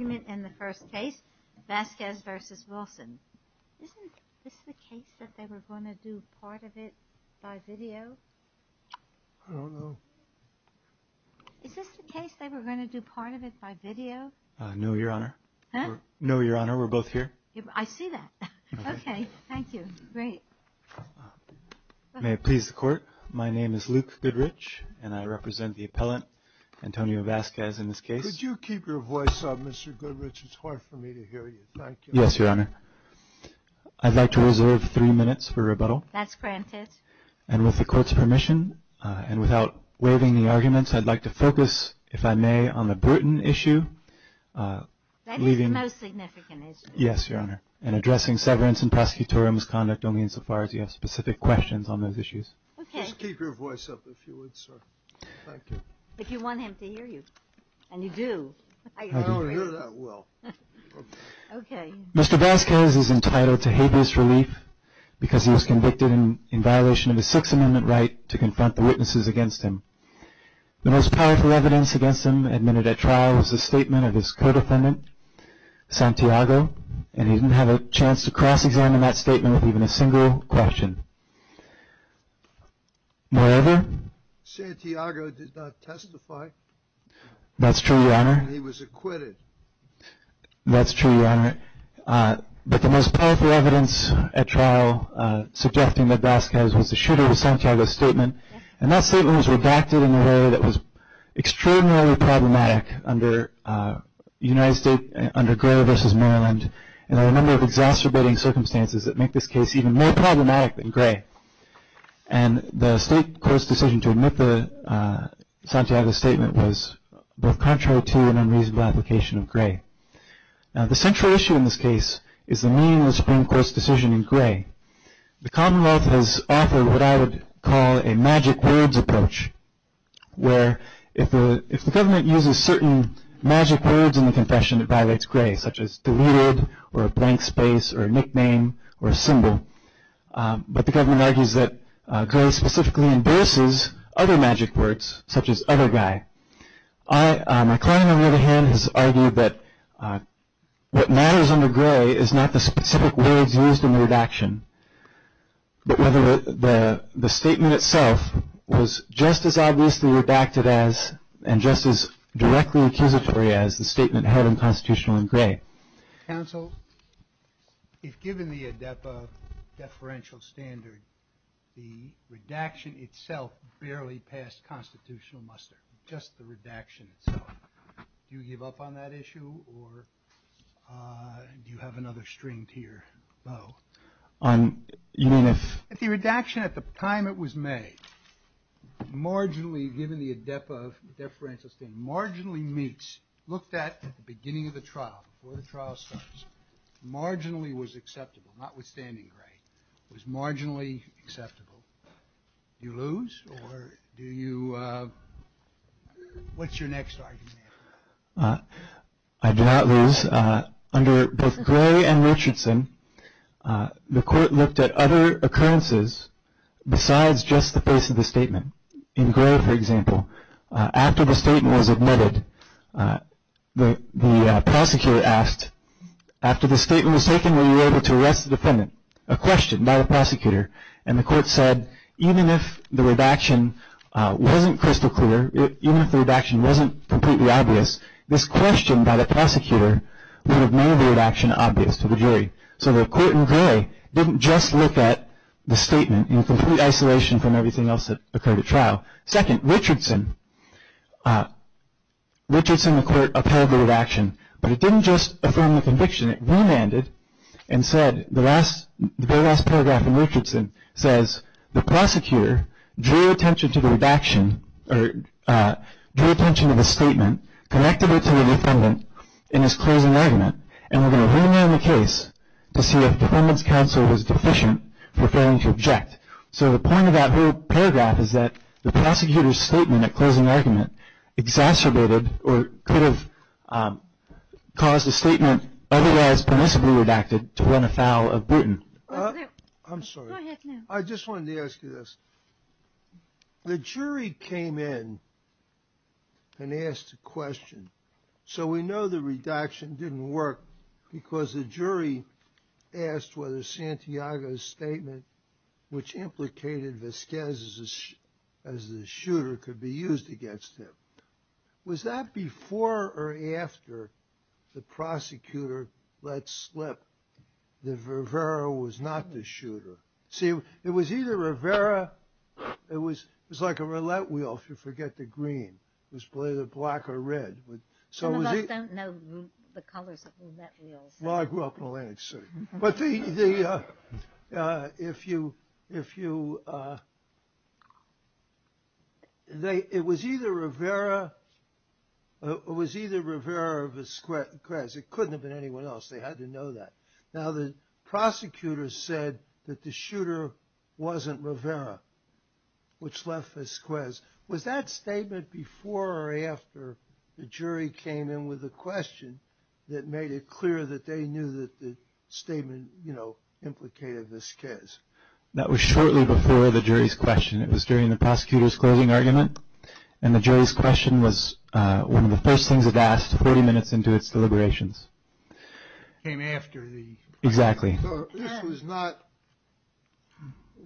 in the first case. Vasquez v. Wilson. Is this the case that they were going to do part of it by video? I don't know. Is this the case they were going to do part of it by video? No, Your Honor. Huh? No, Your Honor. We're both here. I see that. Okay. Thank you. Great. May it please the Court, my name is Luke Goodrich and I represent the appellant Antonio Vasquez in this case. Could you keep your voice up, Mr. Goodrich, it's hard for me to hear you. Thank you. Yes, Your Honor. I'd like to reserve three minutes for rebuttal. That's granted. And with the Court's permission, and without waiving the arguments, I'd like to focus, if I may, on the Bruton issue. That is the most significant issue. Yes, Your Honor. And addressing severance and prosecutorial misconduct only insofar as you have specific questions on those issues. Okay. Just keep your voice up if you would, sir. Thank you. If you want him to hear you. And you do. I can only hear that well. Okay. Mr. Vasquez is entitled to habeas relief because he was convicted in violation of the Sixth Amendment right to confront the witnesses against him. The most powerful evidence against him admitted at trial was the statement of his co-defendant, Santiago, and he didn't have a chance to cross-examine that statement with even a single question. Moreover... Santiago did not testify. That's true, Your Honor. He was acquitted. That's true, Your Honor. But the most powerful evidence at trial suggesting that Vasquez was the shooter of Santiago's statement, and that statement was redacted in a way that was extraordinarily problematic under United States, under Gore v. Maryland, and under a number of exacerbating circumstances that make this case even more problematic than Gray. And the State Court's decision to admit Santiago's statement was both contrary to and unreasonable application of Gray. Now the central issue in this case is the meaning of the Supreme Court's decision in Gray. The Commonwealth has offered what I would call a magic words approach, where if the government uses certain magic words in the confession, it violates Gray, such as deleted, or a blank space, or a nickname, or a symbol. But the government argues that Gray specifically endorses other magic words, such as other guy. My client, on the other hand, has argued that what matters under Gray is not the specific words used in the redaction, but whether the statement itself was just as obviously redacted as, and just as directly accusatory as, the statement held in Constitutional in Gray. Counsel, if given the ADEPA deferential standard, the redaction itself barely passed Constitutional muster, just the redaction itself, do you give up on that issue, or do you have another string to your bow? You mean if... If the redaction, at the time it was made, marginally, given the ADEPA deferential standard, marginally meets, looked at at the beginning of the trial, before the trial starts, marginally was acceptable, notwithstanding Gray, was marginally acceptable, do you lose, or do you, what's your next argument? I do not lose. Under both Gray and Richardson, the court looked at other occurrences besides just the face of the statement. In Gray, for example, after the statement was admitted, the prosecutor asked, after the statement was taken, were you able to arrest the defendant? A question by the prosecutor, and the court said, even if the redaction wasn't crystal obvious, this question by the prosecutor would have made the redaction obvious to the jury. So the court in Gray didn't just look at the statement in complete isolation from everything else that occurred at trial. Second, Richardson, the court upheld the redaction, but it didn't just affirm the conviction, it remanded and said, the very last paragraph in Richardson says, the prosecutor drew attention to the redaction, or drew attention to the statement, connected it to the defendant in his closing argument, and we're going to remand the case to see if the defendant's counsel was deficient for failing to object. So the point of that whole paragraph is that the prosecutor's statement at closing argument exacerbated or could have caused the statement otherwise permissibly redacted to win a foul of Bruton. I'm sorry. I just wanted to ask you this. The jury came in and asked a question. So we know the redaction didn't work because the jury asked whether Santiago's statement, which implicated Vasquez as the shooter, could be used against him. Was that before or after the prosecutor let slip that Rivera was not the shooter? See, it was either Rivera, it was like a roulette wheel, if you forget the green. It was either black or red. Some of us don't know the colors of roulette wheels. Well, I grew up in Atlantic City. It was either Rivera or Vasquez. It couldn't have been anyone else. They had to know that. Now, the prosecutor said that the shooter wasn't Rivera, which left Vasquez. Was that statement before or after the jury came in with a question that made it clear that they knew that the statement, you know, implicated Vasquez? That was shortly before the jury's question. It was during the prosecutor's closing argument. And the jury's question was one of the first things it asked 40 minutes into its deliberations. Came after the… Exactly. So this was not,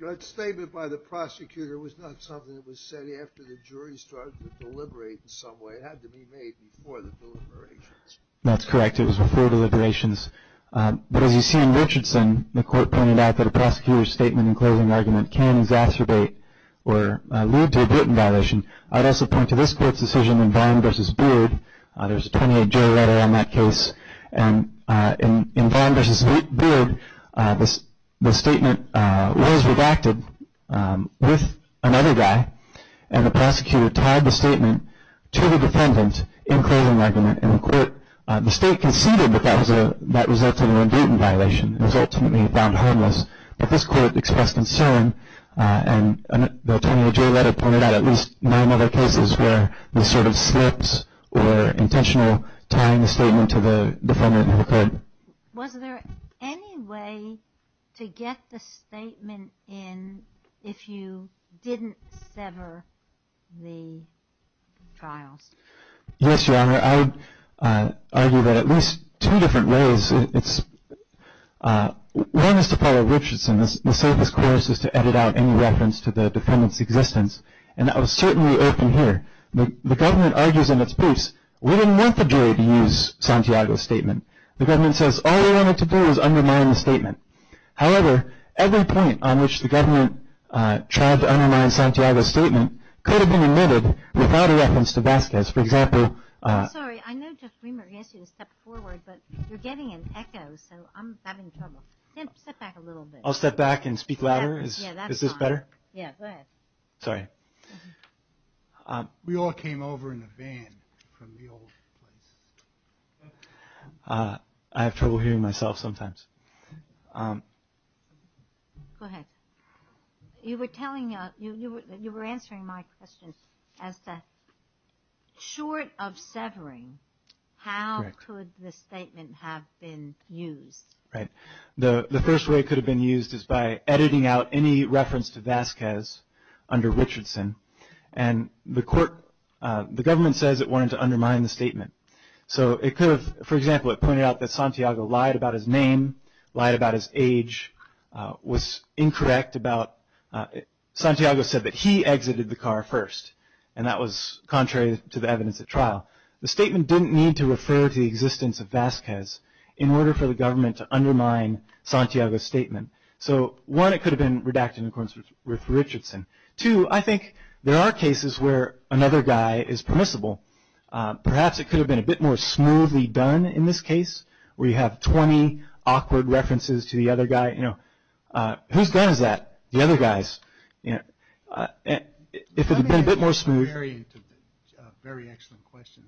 that statement by the prosecutor was not something that was said after the jury started to deliberate in some way. It had to be made before the deliberations. That's correct. It was before deliberations. But as you see in Richardson, the court pointed out that a prosecutor's statement and closing argument can exacerbate or lead to a written violation. I'd also point to this court's decision in Vaughn v. Beard. There's a 28-J letter on that case. And in Vaughn v. Beard, the statement was redacted with another guy, and the prosecutor tied the statement to the defendant in closing argument. And the state conceded that that resulted in a written violation. It was ultimately found harmless. But this court expressed concern, and the 28-J letter pointed out at least nine other cases where this sort of slips or intentional tying the statement to the defendant who could. Was there any way to get the statement in if you didn't sever the trials? Yes, Your Honor. I'd argue that at least two different ways. One is to follow Richardson. The safest course is to edit out any reference to the defendant's existence. And that was certainly open here. The government argues in its briefs, we didn't want the jury to use Santiago's statement. The government says all they wanted to do was undermine the statement. However, every point on which the government tried to undermine Santiago's statement could have been omitted without a reference to Vasquez. For example... I'm sorry, I know Judge Weimer asked you to step forward, but you're getting an echo, so I'm having trouble. Step back a little bit. I'll step back and speak louder? Is this better? Yeah, go ahead. Sorry. We all came over in a van from the old place. I have trouble hearing myself sometimes. Go ahead. You were answering my question as to short of severing, how could the statement have been used? The first way it could have been used is by editing out any reference to Vasquez under Richardson. The government says it wanted to undermine the statement. For example, it pointed out that Santiago lied about his name, lied about his age, was incorrect about... Santiago said that he exited the car first, and that was contrary to the evidence at trial. The statement didn't need to refer to the existence of Vasquez in order for the government to undermine Santiago's statement. One, it could have been redacted in accordance with Richardson. Two, I think there are cases where another guy is permissible. Perhaps it could have been a bit more smoothly done in this case, where you have 20 awkward references to the other guy. Who's gun is that? The other guy's. If it had been a bit more smooth... Very excellent question.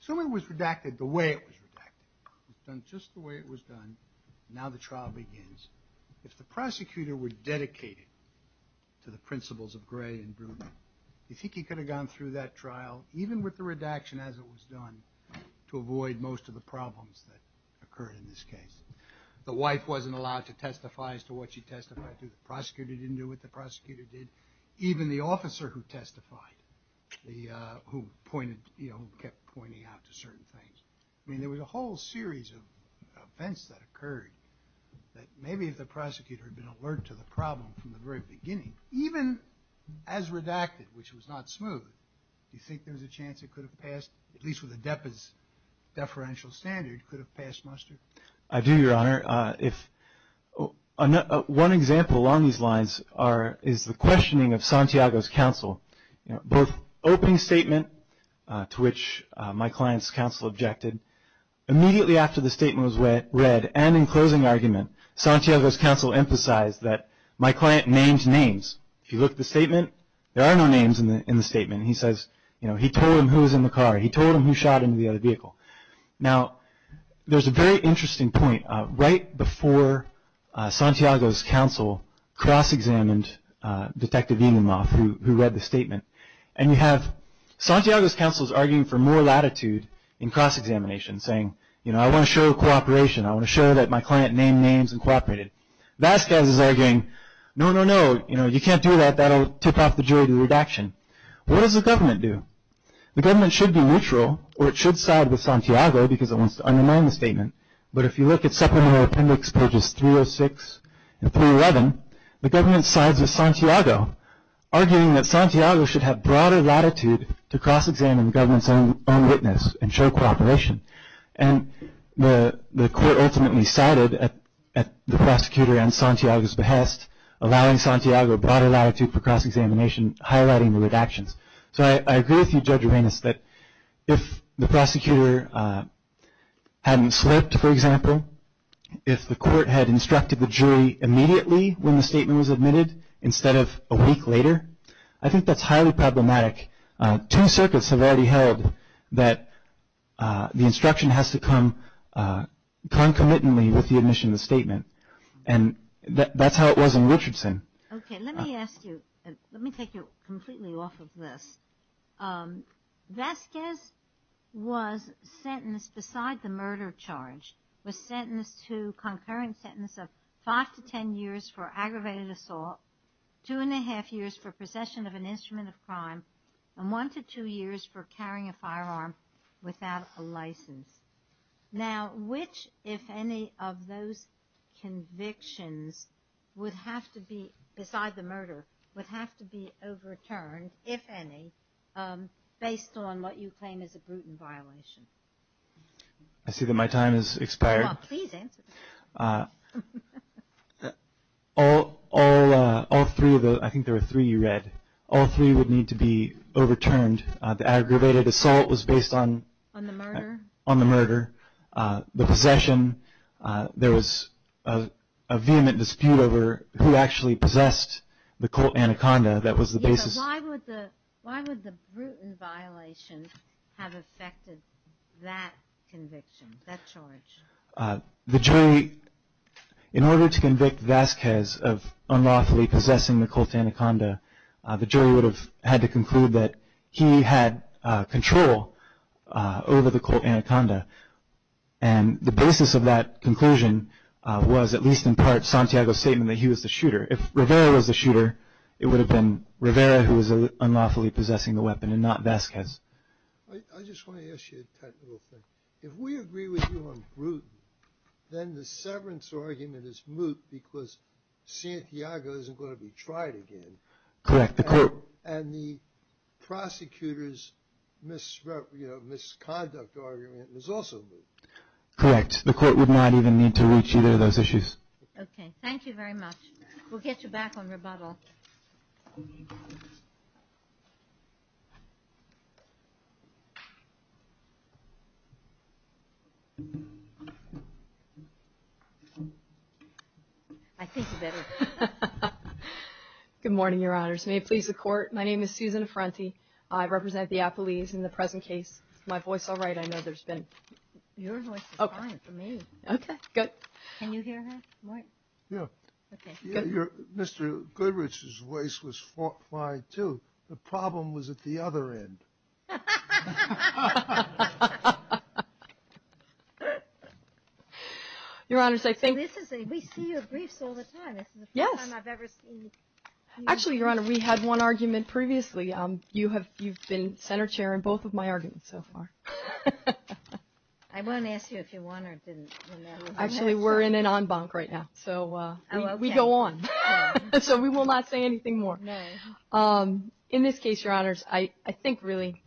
So it was redacted the way it was redacted. It was done just the way it was done. Now the trial begins. If the prosecutor were dedicated to the principles of Gray and Brubaker, do you think he could have gone through that trial, even with the redaction as it was done, to avoid most of the problems that occurred in this case? The wife wasn't allowed to testify as to what she testified to. The prosecutor didn't do what the prosecutor did. Even the officer who testified, who kept pointing out to certain things. I mean, there was a whole series of events that occurred that maybe if the prosecutor had been alert to the problem from the very beginning, even as redacted, which was not smooth, do you think there was a chance it could have passed, at least with ADEPA's deferential standard, could have passed muster? I do, Your Honor. One example along these lines is the questioning of Santiago's counsel. Both opening statement, to which my client's counsel objected, immediately after the statement was read, and in closing argument, Santiago's counsel emphasized that my client named names. If you look at the statement, there are no names in the statement. He says, you know, he told him who was in the car. He told him who shot into the other vehicle. Now, there's a very interesting point. Right before Santiago's counsel cross-examined Detective Ingenloff, who read the statement, and you have Santiago's counsel's arguing for more latitude in cross-examination, saying, you know, I want to show cooperation. I want to show that my client named names and cooperated. Vasquez is arguing, no, no, no, you know, you can't do that. That'll tip off the jury to redaction. What does the government do? The government should be neutral, or it should side with Santiago because it wants to undermine the statement. But if you look at supplemental appendix pages 306 and 311, the government sides with Santiago, arguing that Santiago should have broader latitude to cross-examine the government's own witness and show cooperation. And the court ultimately sided at the prosecutor and Santiago's behest, allowing Santiago broader latitude for cross-examination, highlighting the redactions. So I agree with you, Judge Uranus, that if the prosecutor hadn't slipped, for example, if the court had instructed the jury immediately when the statement was admitted instead of a week later, I think that's highly problematic. Two circuits have already held that the instruction has to come concomitantly with the admission of the statement. And that's how it was in Richardson. Okay, let me ask you, let me take you completely off of this. Vasquez was sentenced beside the murder charge, was sentenced to concurrent sentence of five to ten years for aggravated assault, two and a half years for possession of an instrument of crime, and one to two years for carrying a firearm without a license. Now, which, if any, of those convictions would have to be, beside the murder, would have to be overturned, if any, based on what you claim is a Bruton violation? I see that my time has expired. No, please answer. All three of those, I think there were three you read, all three would need to be overturned. On the murder? On the murder, the possession, there was a vehement dispute over who actually possessed the Colt Anaconda, that was the basis. Yeah, but why would the Bruton violation have affected that conviction, that charge? The jury, in order to convict Vasquez of unlawfully possessing the Colt Anaconda, the jury would have had to conclude that he had control over the Colt Anaconda, and the basis of that conclusion was, at least in part, Santiago's statement that he was the shooter. If Rivera was the shooter, it would have been Rivera who was unlawfully possessing the weapon and not Vasquez. I just want to ask you a technical thing. If we agree with you on Bruton, then the severance argument is moot because Santiago isn't going to be tried again. Correct. And the prosecutor's misconduct argument is also moot. Correct. The court would not even need to reach either of those issues. Okay, thank you very much. We'll get you back on rebuttal. I think you better. Good morning, Your Honors. May it please the Court, my name is Susan Affrenti. I represent the Appleese in the present case. Is my voice all right? I know there's been... Your voice is fine for me. Okay, good. Can you hear her? Yeah. Okay. Mr. Goodrich's voice was fine, too. The problem was at the other end. Your Honors, I think... We see your briefs all the time. This is the first time I've ever seen... Actually, Your Honor, we had one argument previously. You've been center chair in both of my arguments so far. I won't ask you if you won or didn't. Actually, we're in an en banc right now, so we go on. So we will not say anything more. No. In this case, Your Honors, I think really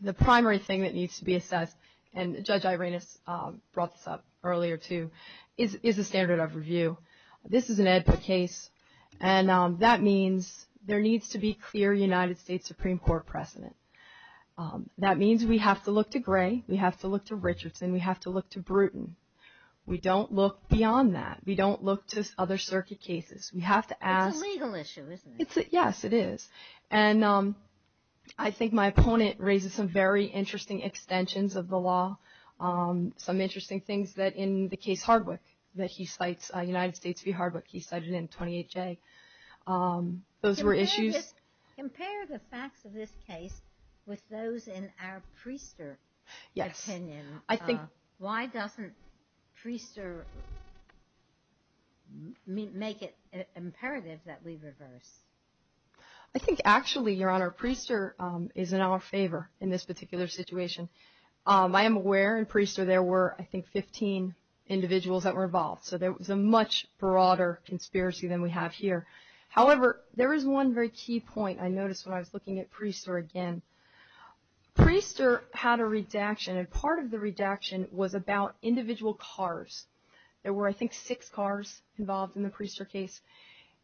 the primary thing that needs to be assessed, and Judge Irena brought this up earlier, too, is the standard of review. This is an AEDPA case, and that means there needs to be clear United States Supreme Court precedent. That means we have to look to Gray, we have to look to Richardson, we have to look to Brewton. We don't look beyond that. We don't look to other circuit cases. We have to ask... It's a legal issue, isn't it? Yes, it is. And I think my opponent raises some very interesting extensions of the law, some interesting things that in the case Hardwick that he cites, United States v. Hardwick, he cited in 28J. Those were issues... Yes. Why doesn't Priester make it imperative that we reverse? I think actually, Your Honor, Priester is in our favor in this particular situation. I am aware in Priester there were, I think, 15 individuals that were involved. So there was a much broader conspiracy than we have here. However, there is one very key point I noticed when I was looking at Priester again. Priester had a redaction, and part of the redaction was about individual cars. There were, I think, six cars involved in the Priester case.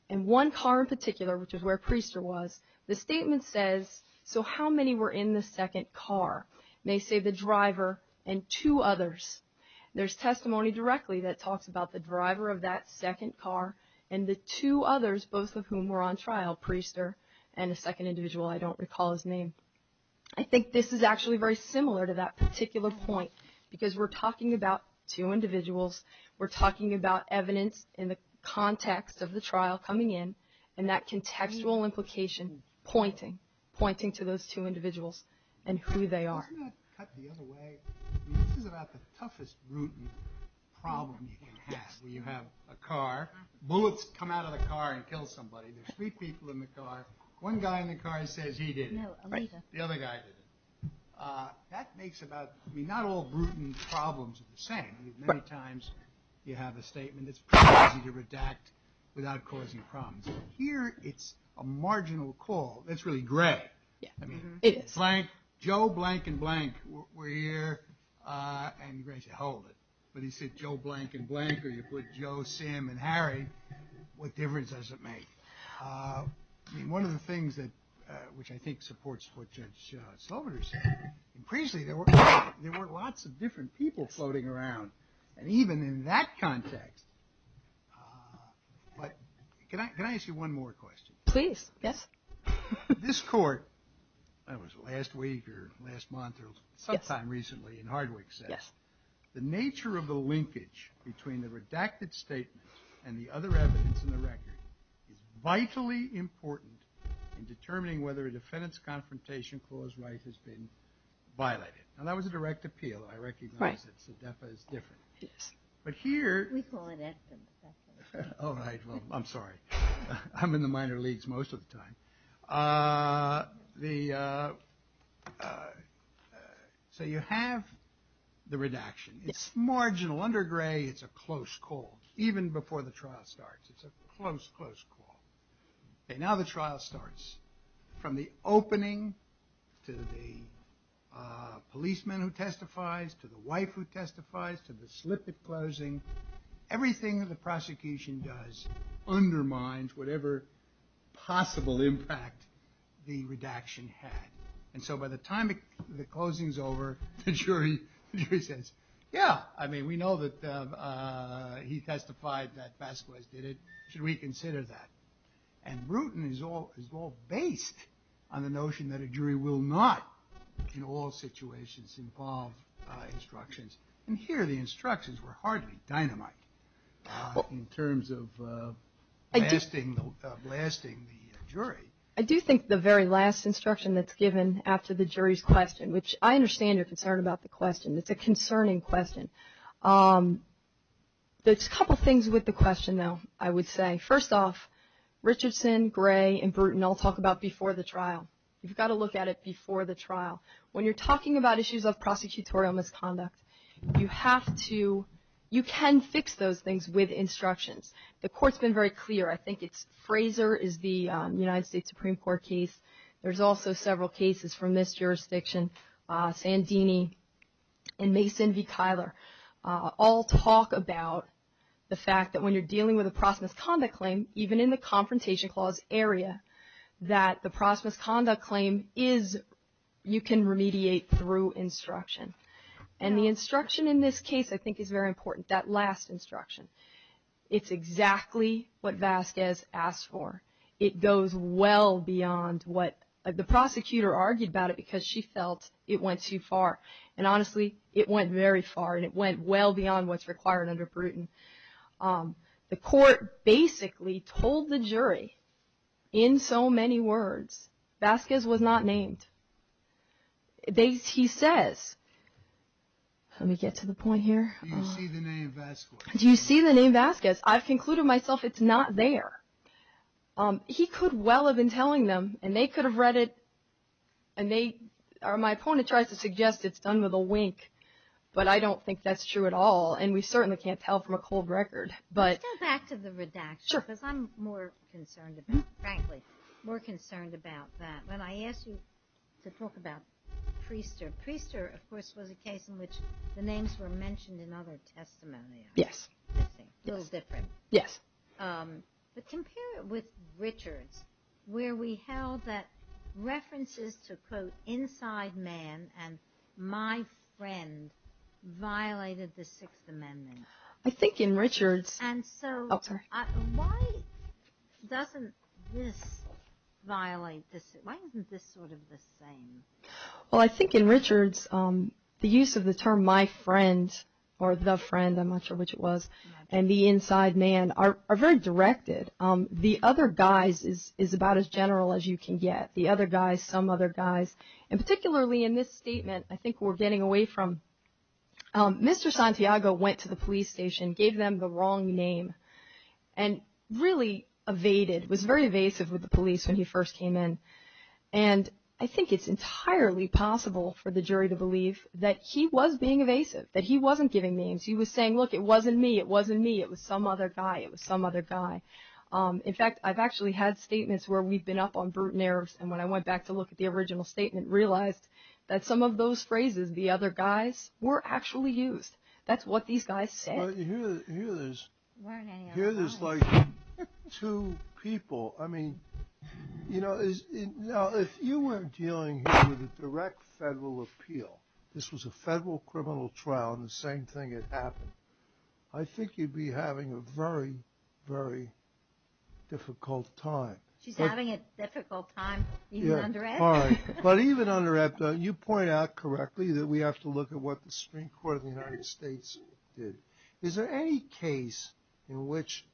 And one car in particular, which is where Priester was, the statement says, so how many were in the second car? And they say the driver and two others. There's testimony directly that talks about the driver of that second car and the two others, both of whom were on trial, Priester and a second individual, I don't recall his name. I think this is actually very similar to that particular point, because we're talking about two individuals. We're talking about evidence in the context of the trial coming in and that contextual implication pointing to those two individuals and who they are. Isn't that cut the other way? This is about the toughest root problem you can have where you have a car, bullets come out of the car and kill somebody. There's three people in the car. One guy in the car says he did it. The other guy did it. That makes about, I mean, not all root problems are the same. Many times you have a statement that's pretty easy to redact without causing problems. Here, it's a marginal call. That's really gray. I mean, blank, Joe, blank, and blank were here. And Gray said, hold it. But he said, Joe, blank, and blank, or you put Joe, Sam, and Harry. What difference does it make? I mean, one of the things which I think supports what Judge Sloviter said, increasingly there were lots of different people floating around, and even in that context. But can I ask you one more question? Please, yes. This court, that was last week or last month or sometime recently in Hardwick said, the nature of the linkage between the redacted statement and the other evidence in the record is vitally important in determining whether a defendant's confrontation clause right has been violated. Now, that was a direct appeal. I recognize that SEDEFA is different. But here. We call it SEDEFA. All right. Well, I'm sorry. I'm in the minor leagues most of the time. The, so you have the redaction. It's marginal. Under Gray, it's a close call, even before the trial starts. It's a close, close call. And now the trial starts. From the opening to the policeman who testifies to the wife who testifies to the slip at closing, everything that the prosecution does undermines whatever possible impact the redaction had. And so by the time the closing's over, the jury says, yeah, I mean, we know that he testified that Vasquez did it. Should we consider that? And Bruton is all based on the notion that a jury will not, in all situations, involve instructions. And here the instructions were hardly dynamite in terms of blasting the jury. I do think the very last instruction that's given after the jury's question, which I understand your concern about the question. It's a concerning question. There's a couple things with the question, though, I would say. First off, Richardson, Gray, and Bruton all talk about before the trial. You've got to look at it before the trial. When you're talking about issues of prosecutorial misconduct, you have to you can fix those things with instructions. The court's been very clear. I think it's Fraser is the United States Supreme Court case. There's also several cases from this jurisdiction, Sandini and Mason v. Kyler all talk about the fact that when you're dealing with a cross misconduct claim, even in the Confrontation Clause area, that the cross misconduct claim is, you can remediate through instruction. And the instruction in this case I think is very important, that last instruction. It's exactly what Vasquez asked for. It goes well beyond what the prosecutor argued about it because she felt it went too far. And honestly, it went very far, and it went well beyond what's required under Bruton. The court basically told the jury in so many words, Vasquez was not named. He says, let me get to the point here. Do you see the name Vasquez? I've concluded myself it's not there. He could well have been telling them, and they could have read it, and my opponent tries to suggest it's done with a wink, but I don't think that's true at all, and we certainly can't tell from a cold record. Let's go back to the redaction because I'm more concerned about that. When I asked you to talk about Priester, Priester of course was a case in which the names were mentioned in other testimonials. Yes. A little different. Yes. But compare it with Richards where we held that references to, quote, inside man and my friend violated the Sixth Amendment. I think in Richards. And so why doesn't this violate this? Why isn't this sort of the same? Well, I think in Richards the use of the term my friend or the friend, I'm not sure which it was, and the inside man are very directed. The other guys is about as general as you can get. The other guys, some other guys, and particularly in this statement, I think we're getting away from Mr. Santiago went to the police station, gave them the wrong name, and really evaded, was very evasive with the police when he first came in, and I think it's entirely possible for the jury to believe that he was being evasive, that he wasn't giving names. He was saying, look, it wasn't me. It wasn't me. It was some other guy. It was some other guy. In fact, I've actually had statements where we've been up on brute nerves, and when I went back to look at the original statement, realized that some of those phrases, the other guys, were actually used. That's what these guys said. Here there's like two people. I mean, you know, now if you were dealing here with a direct federal appeal, this was a federal criminal trial, and the same thing had happened, I think you'd be having a very, very difficult time. She's having a difficult time even under F. But even under F, you point out correctly that we have to look at what the Supreme Court of the United States did. Is there any case in which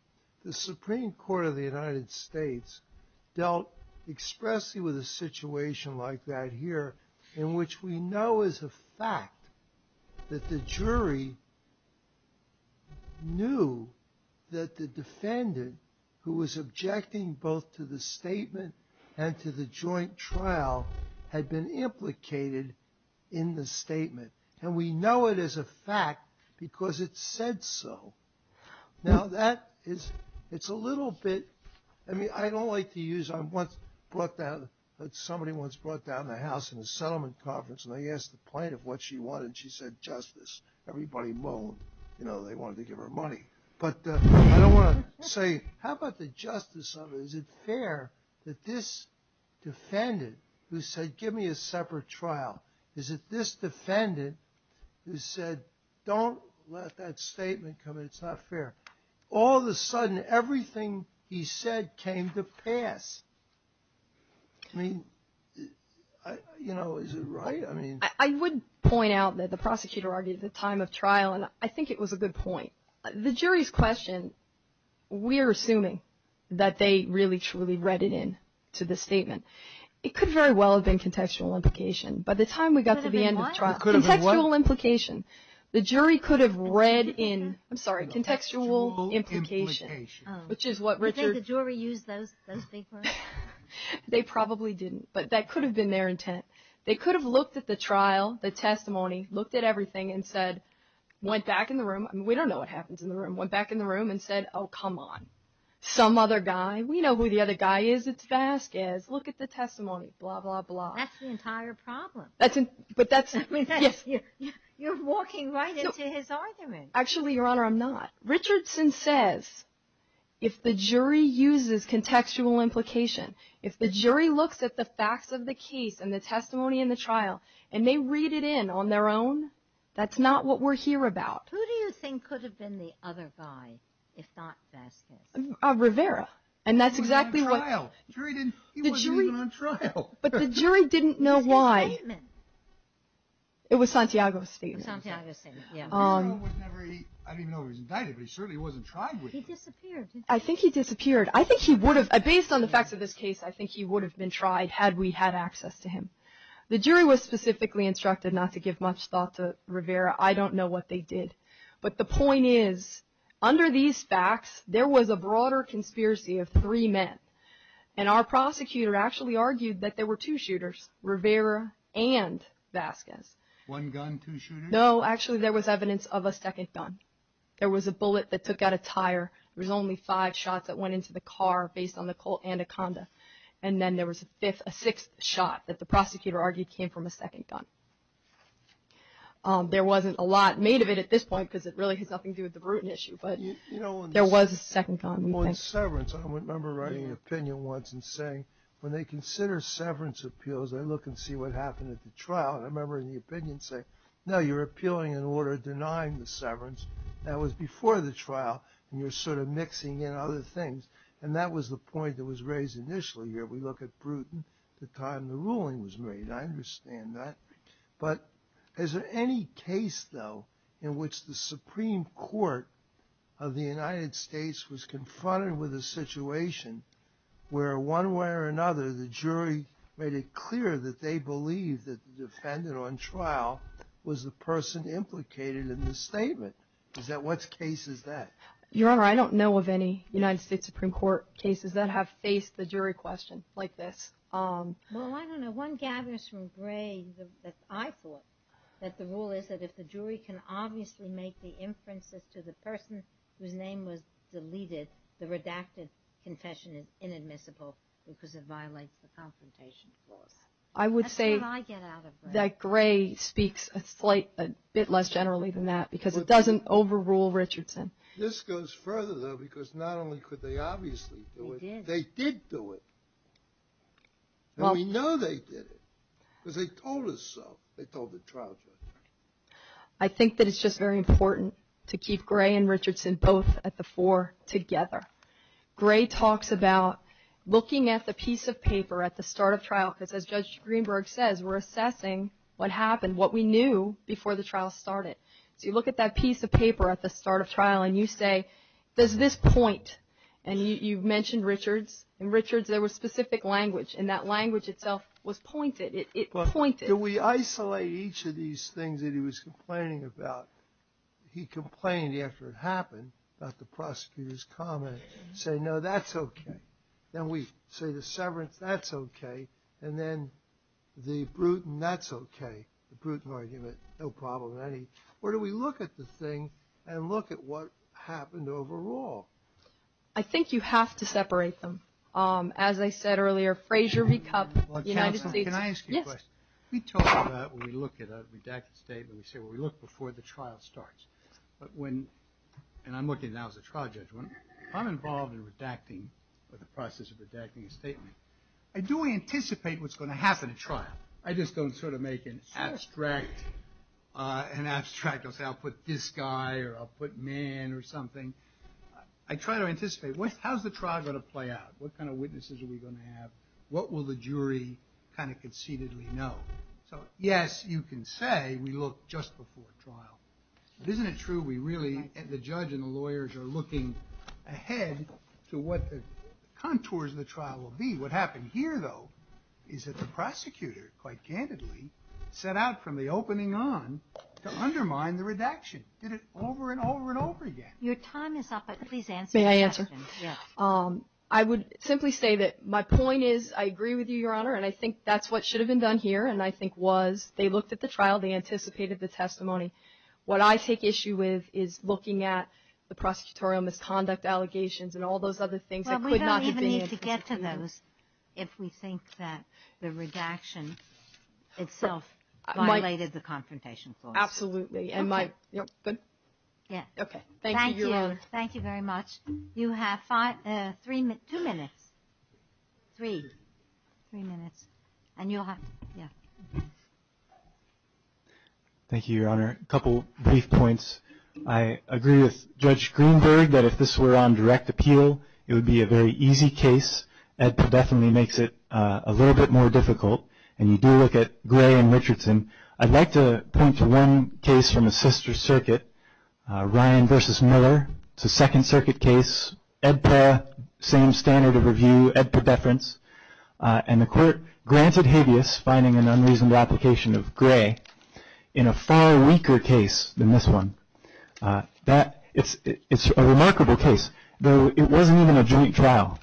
the Supreme Court of the United States dealt expressly with a situation like that here in which we know as a fact that the jury knew that the defendant who was objecting both to the statement and to the joint trial had been implicated in the statement. And we know it as a fact because it said so. Now that is, it's a little bit, I mean, I don't like to use, I once brought down, somebody once brought down the house in a settlement conference and they asked the plaintiff what she wanted and she said justice. Everybody moaned, you know, they wanted to give her money. But I don't want to say, how about the justice of it? Is it fair that this defendant who said give me a separate trial, is it this defendant who said don't let that statement come in, it's not fair. All of a sudden everything he said came to pass. I mean, you know, is it right? I would point out that the prosecutor argued at the time of trial and I think it was a good point. The jury's question, we're assuming that they really, truly read it in to the statement. It could very well have been contextual implication. By the time we got to the end of the trial, contextual implication, the jury could have read in, I'm sorry, contextual implication. Do you think the jury used those big words? They probably didn't, but that could have been their intent. They could have looked at the trial, the testimony, looked at everything and said, went back in the room, we don't know what happens in the room, went back in the room and said, oh, come on, some other guy, we know who the other guy is, it's Vasquez, look at the testimony, blah, blah, blah. That's the entire problem. You're walking right into his argument. Actually, Your Honor, I'm not. Richardson says if the jury uses contextual implication, if the jury looks at the facts of the case and the testimony in the trial and they read it in on their own, that's not what we're here about. Who do you think could have been the other guy if not Vasquez? Rivera. He wasn't even on trial. But the jury didn't know why. It was Santiago's statement. I don't even know if he was indicted, but he certainly wasn't tried. He disappeared. I think he disappeared. Based on the facts of this case, I think he would have been tried had we had access to him. The jury was specifically instructed not to give much thought to Rivera. I don't know what they did. But the point is, under these facts, there was a broader conspiracy of three men, and our prosecutor actually argued that there were two shooters, Rivera and Vasquez. One gun, two shooters? No. Actually, there was evidence of a second gun. There was a bullet that took out a tire. There was only five shots that went into the car, based on the Colt and a Conda. And then there was a fifth, a sixth shot that the prosecutor argued came from a second gun. There wasn't a lot made of it at this point, because it really has nothing to do with the Bruton issue, but there was a second gun. On severance, I remember writing an opinion once and saying, when they consider severance appeals, they look and see what happened at the trial. And I remember in the opinion saying, no, you're appealing an order denying the severance. That was before the trial, and you're sort of mixing in other things. And that was the point that was raised initially here. We look at Bruton, the time the ruling was made. I understand that. But is there any case, though, in which the Supreme Court of the United States was confronted with a situation where one way or another, the jury made it clear that they believed that the defendant on trial was the person implicated in the statement? What case is that? Your Honor, I don't know of any United States Supreme Court cases that have faced the jury question like this. Well, I don't know. One gathers from Gray that I thought make the inferences to the person whose name was deleted, that the redacted confession is inadmissible because it violates the confrontation clause. That's what I get out of Gray. I would say that Gray speaks a bit less generally than that because it doesn't overrule Richardson. This goes further, though, because not only could they obviously do it, they did do it. And we know they did it because they told us so. They told the trial judge. I think that it's just very important to keep Gray and Richardson both at the fore together. Gray talks about looking at the piece of paper at the start of trial because as Judge Greenberg says, we're assessing what happened, what we knew before the trial started. So you look at that piece of paper at the start of trial and you say, does this point? And you mentioned Richards. In Richards, there was specific language and that language itself was pointed. It pointed. Do we isolate each of these things that he was complaining about? He complained after it happened about the prosecutor's comment. Say, no, that's okay. Then we say the severance, that's okay. And then the Bruton, that's okay. The Bruton argument, no problem in any. Or do we look at the thing and look at what happened overall? I think you have to separate them. As I said earlier, Frazier v. Cupp, United States. Counsel, can I ask you a question? Yes. We talk about when we look at a redacted statement, we say, well, we look before the trial starts. But when, and I'm looking now as a trial judge, when I'm involved in redacting or the process of redacting a statement, I do anticipate what's going to happen at trial. I just don't sort of make an abstract, an abstract, I'll say I'll put this guy or I'll put man or something. I try to anticipate, how's the trial going to play out? What kind of witnesses are we going to have? What will the jury kind of conceitedly know? So, yes, you can say we look just before trial. But isn't it true we really, the judge and the lawyers are looking ahead to what the contours of the trial will be. What happened here, though, is that the prosecutor, quite candidly, set out from the opening on to undermine the redaction. Did it over and over and over again. Your time is up, but please answer your question. May I answer? Yes. I would simply say that my point is, I agree with you, Your Honor, and I think that's what should have been done here, and I think was. They looked at the trial. They anticipated the testimony. What I take issue with is looking at the prosecutorial misconduct allegations and all those other things that could not have been. Well, we don't even need to get to those if we think that the redaction itself violated the confrontation clause. Absolutely. Okay. Good? Yes. Okay. Thank you, Your Honor. Thank you. Thank you very much. You have two minutes. Three. Three minutes. And you'll have to. Yeah. Thank you, Your Honor. A couple brief points. I agree with Judge Greenberg that if this were on direct appeal, it would be a very easy case. Ed Podefinitely makes it a little bit more difficult, and you do look at Gray and Richardson. I'd like to point to one case from the sister circuit, Ryan v. Miller. It's a second circuit case. Ed Paul, same standard of review, Ed Podefference, and the court granted habeas, finding an unreasonable application of Gray, in a far weaker case than this one. It's a remarkable case, though it wasn't even a joint trial.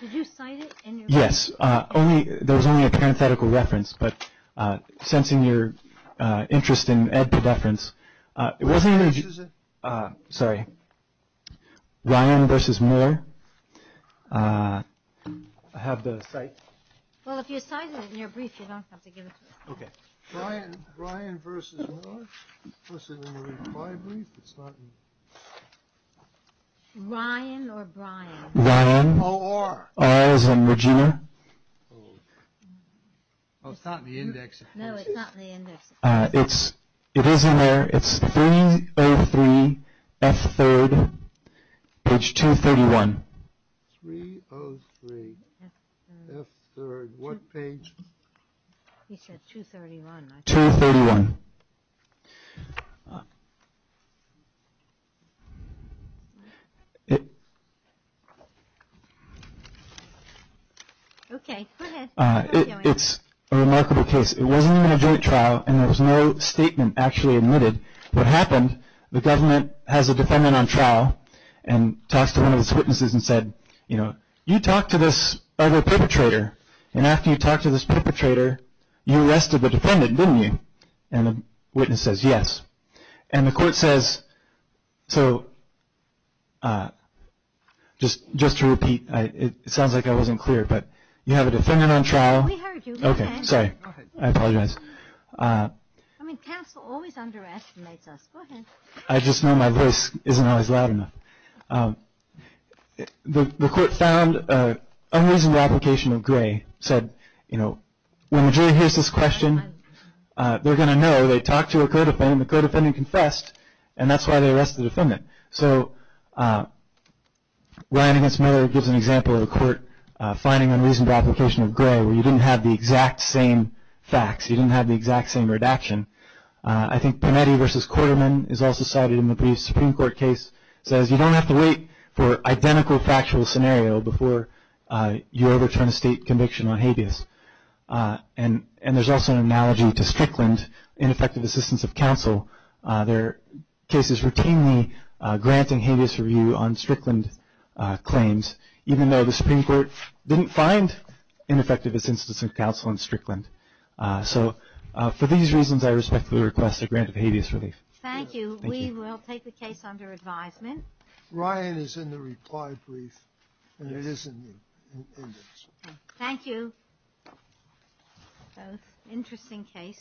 Did you cite it? Yes. There was only a parenthetical reference, but sensing your interest in Ed Podefference, Sorry. Ryan v. Miller. I have the cite. Well, if you cite it in your brief, you don't have to give it to us. Okay. Ryan v. Miller. Ryan or Brian. Ryan. Or. Or as in Regina. It's not in the index. No, it's not in the index. It is in there. It's 303 F3rd, page 231. 303 F3rd. What page? He said 231. 231. Okay, go ahead. It's a remarkable case. It wasn't even a joint trial, and there was no statement actually admitted. What happened, the government has a defendant on trial, and talks to one of its witnesses and said, you know, you talked to this other perpetrator, and after you talked to this perpetrator, you arrested the defendant, didn't you? And the witness says yes. And the court says, so just to repeat, it sounds like I wasn't clear, but you have a defendant on trial. We heard you. Okay, sorry. I apologize. I mean, counsel always underestimates us. Go ahead. I just know my voice isn't always loud enough. The court found unreasonable application of gray, said, you know, when the jury hears this question, they're going to know. They talked to a co-defendant. The co-defendant confessed, and that's why they arrested the defendant. So Ryan against Miller gives an example of a court finding unreasonable application of gray where you didn't have the exact same facts. You didn't have the exact same redaction. I think Panetti versus Quarterman is also cited in the brief Supreme Court case, says you don't have to wait for identical factual scenario before you overturn a state conviction on habeas. And there's also an analogy to Strickland, ineffective assistance of counsel. There are cases routinely granting habeas review on Strickland claims, even though the Supreme Court didn't find ineffective assistance of counsel in Strickland. So for these reasons, I respectfully request a grant of habeas relief. Thank you. We will take the case under advisement. Ryan is in the reply brief, and it is in you. Thank you. Both interesting case.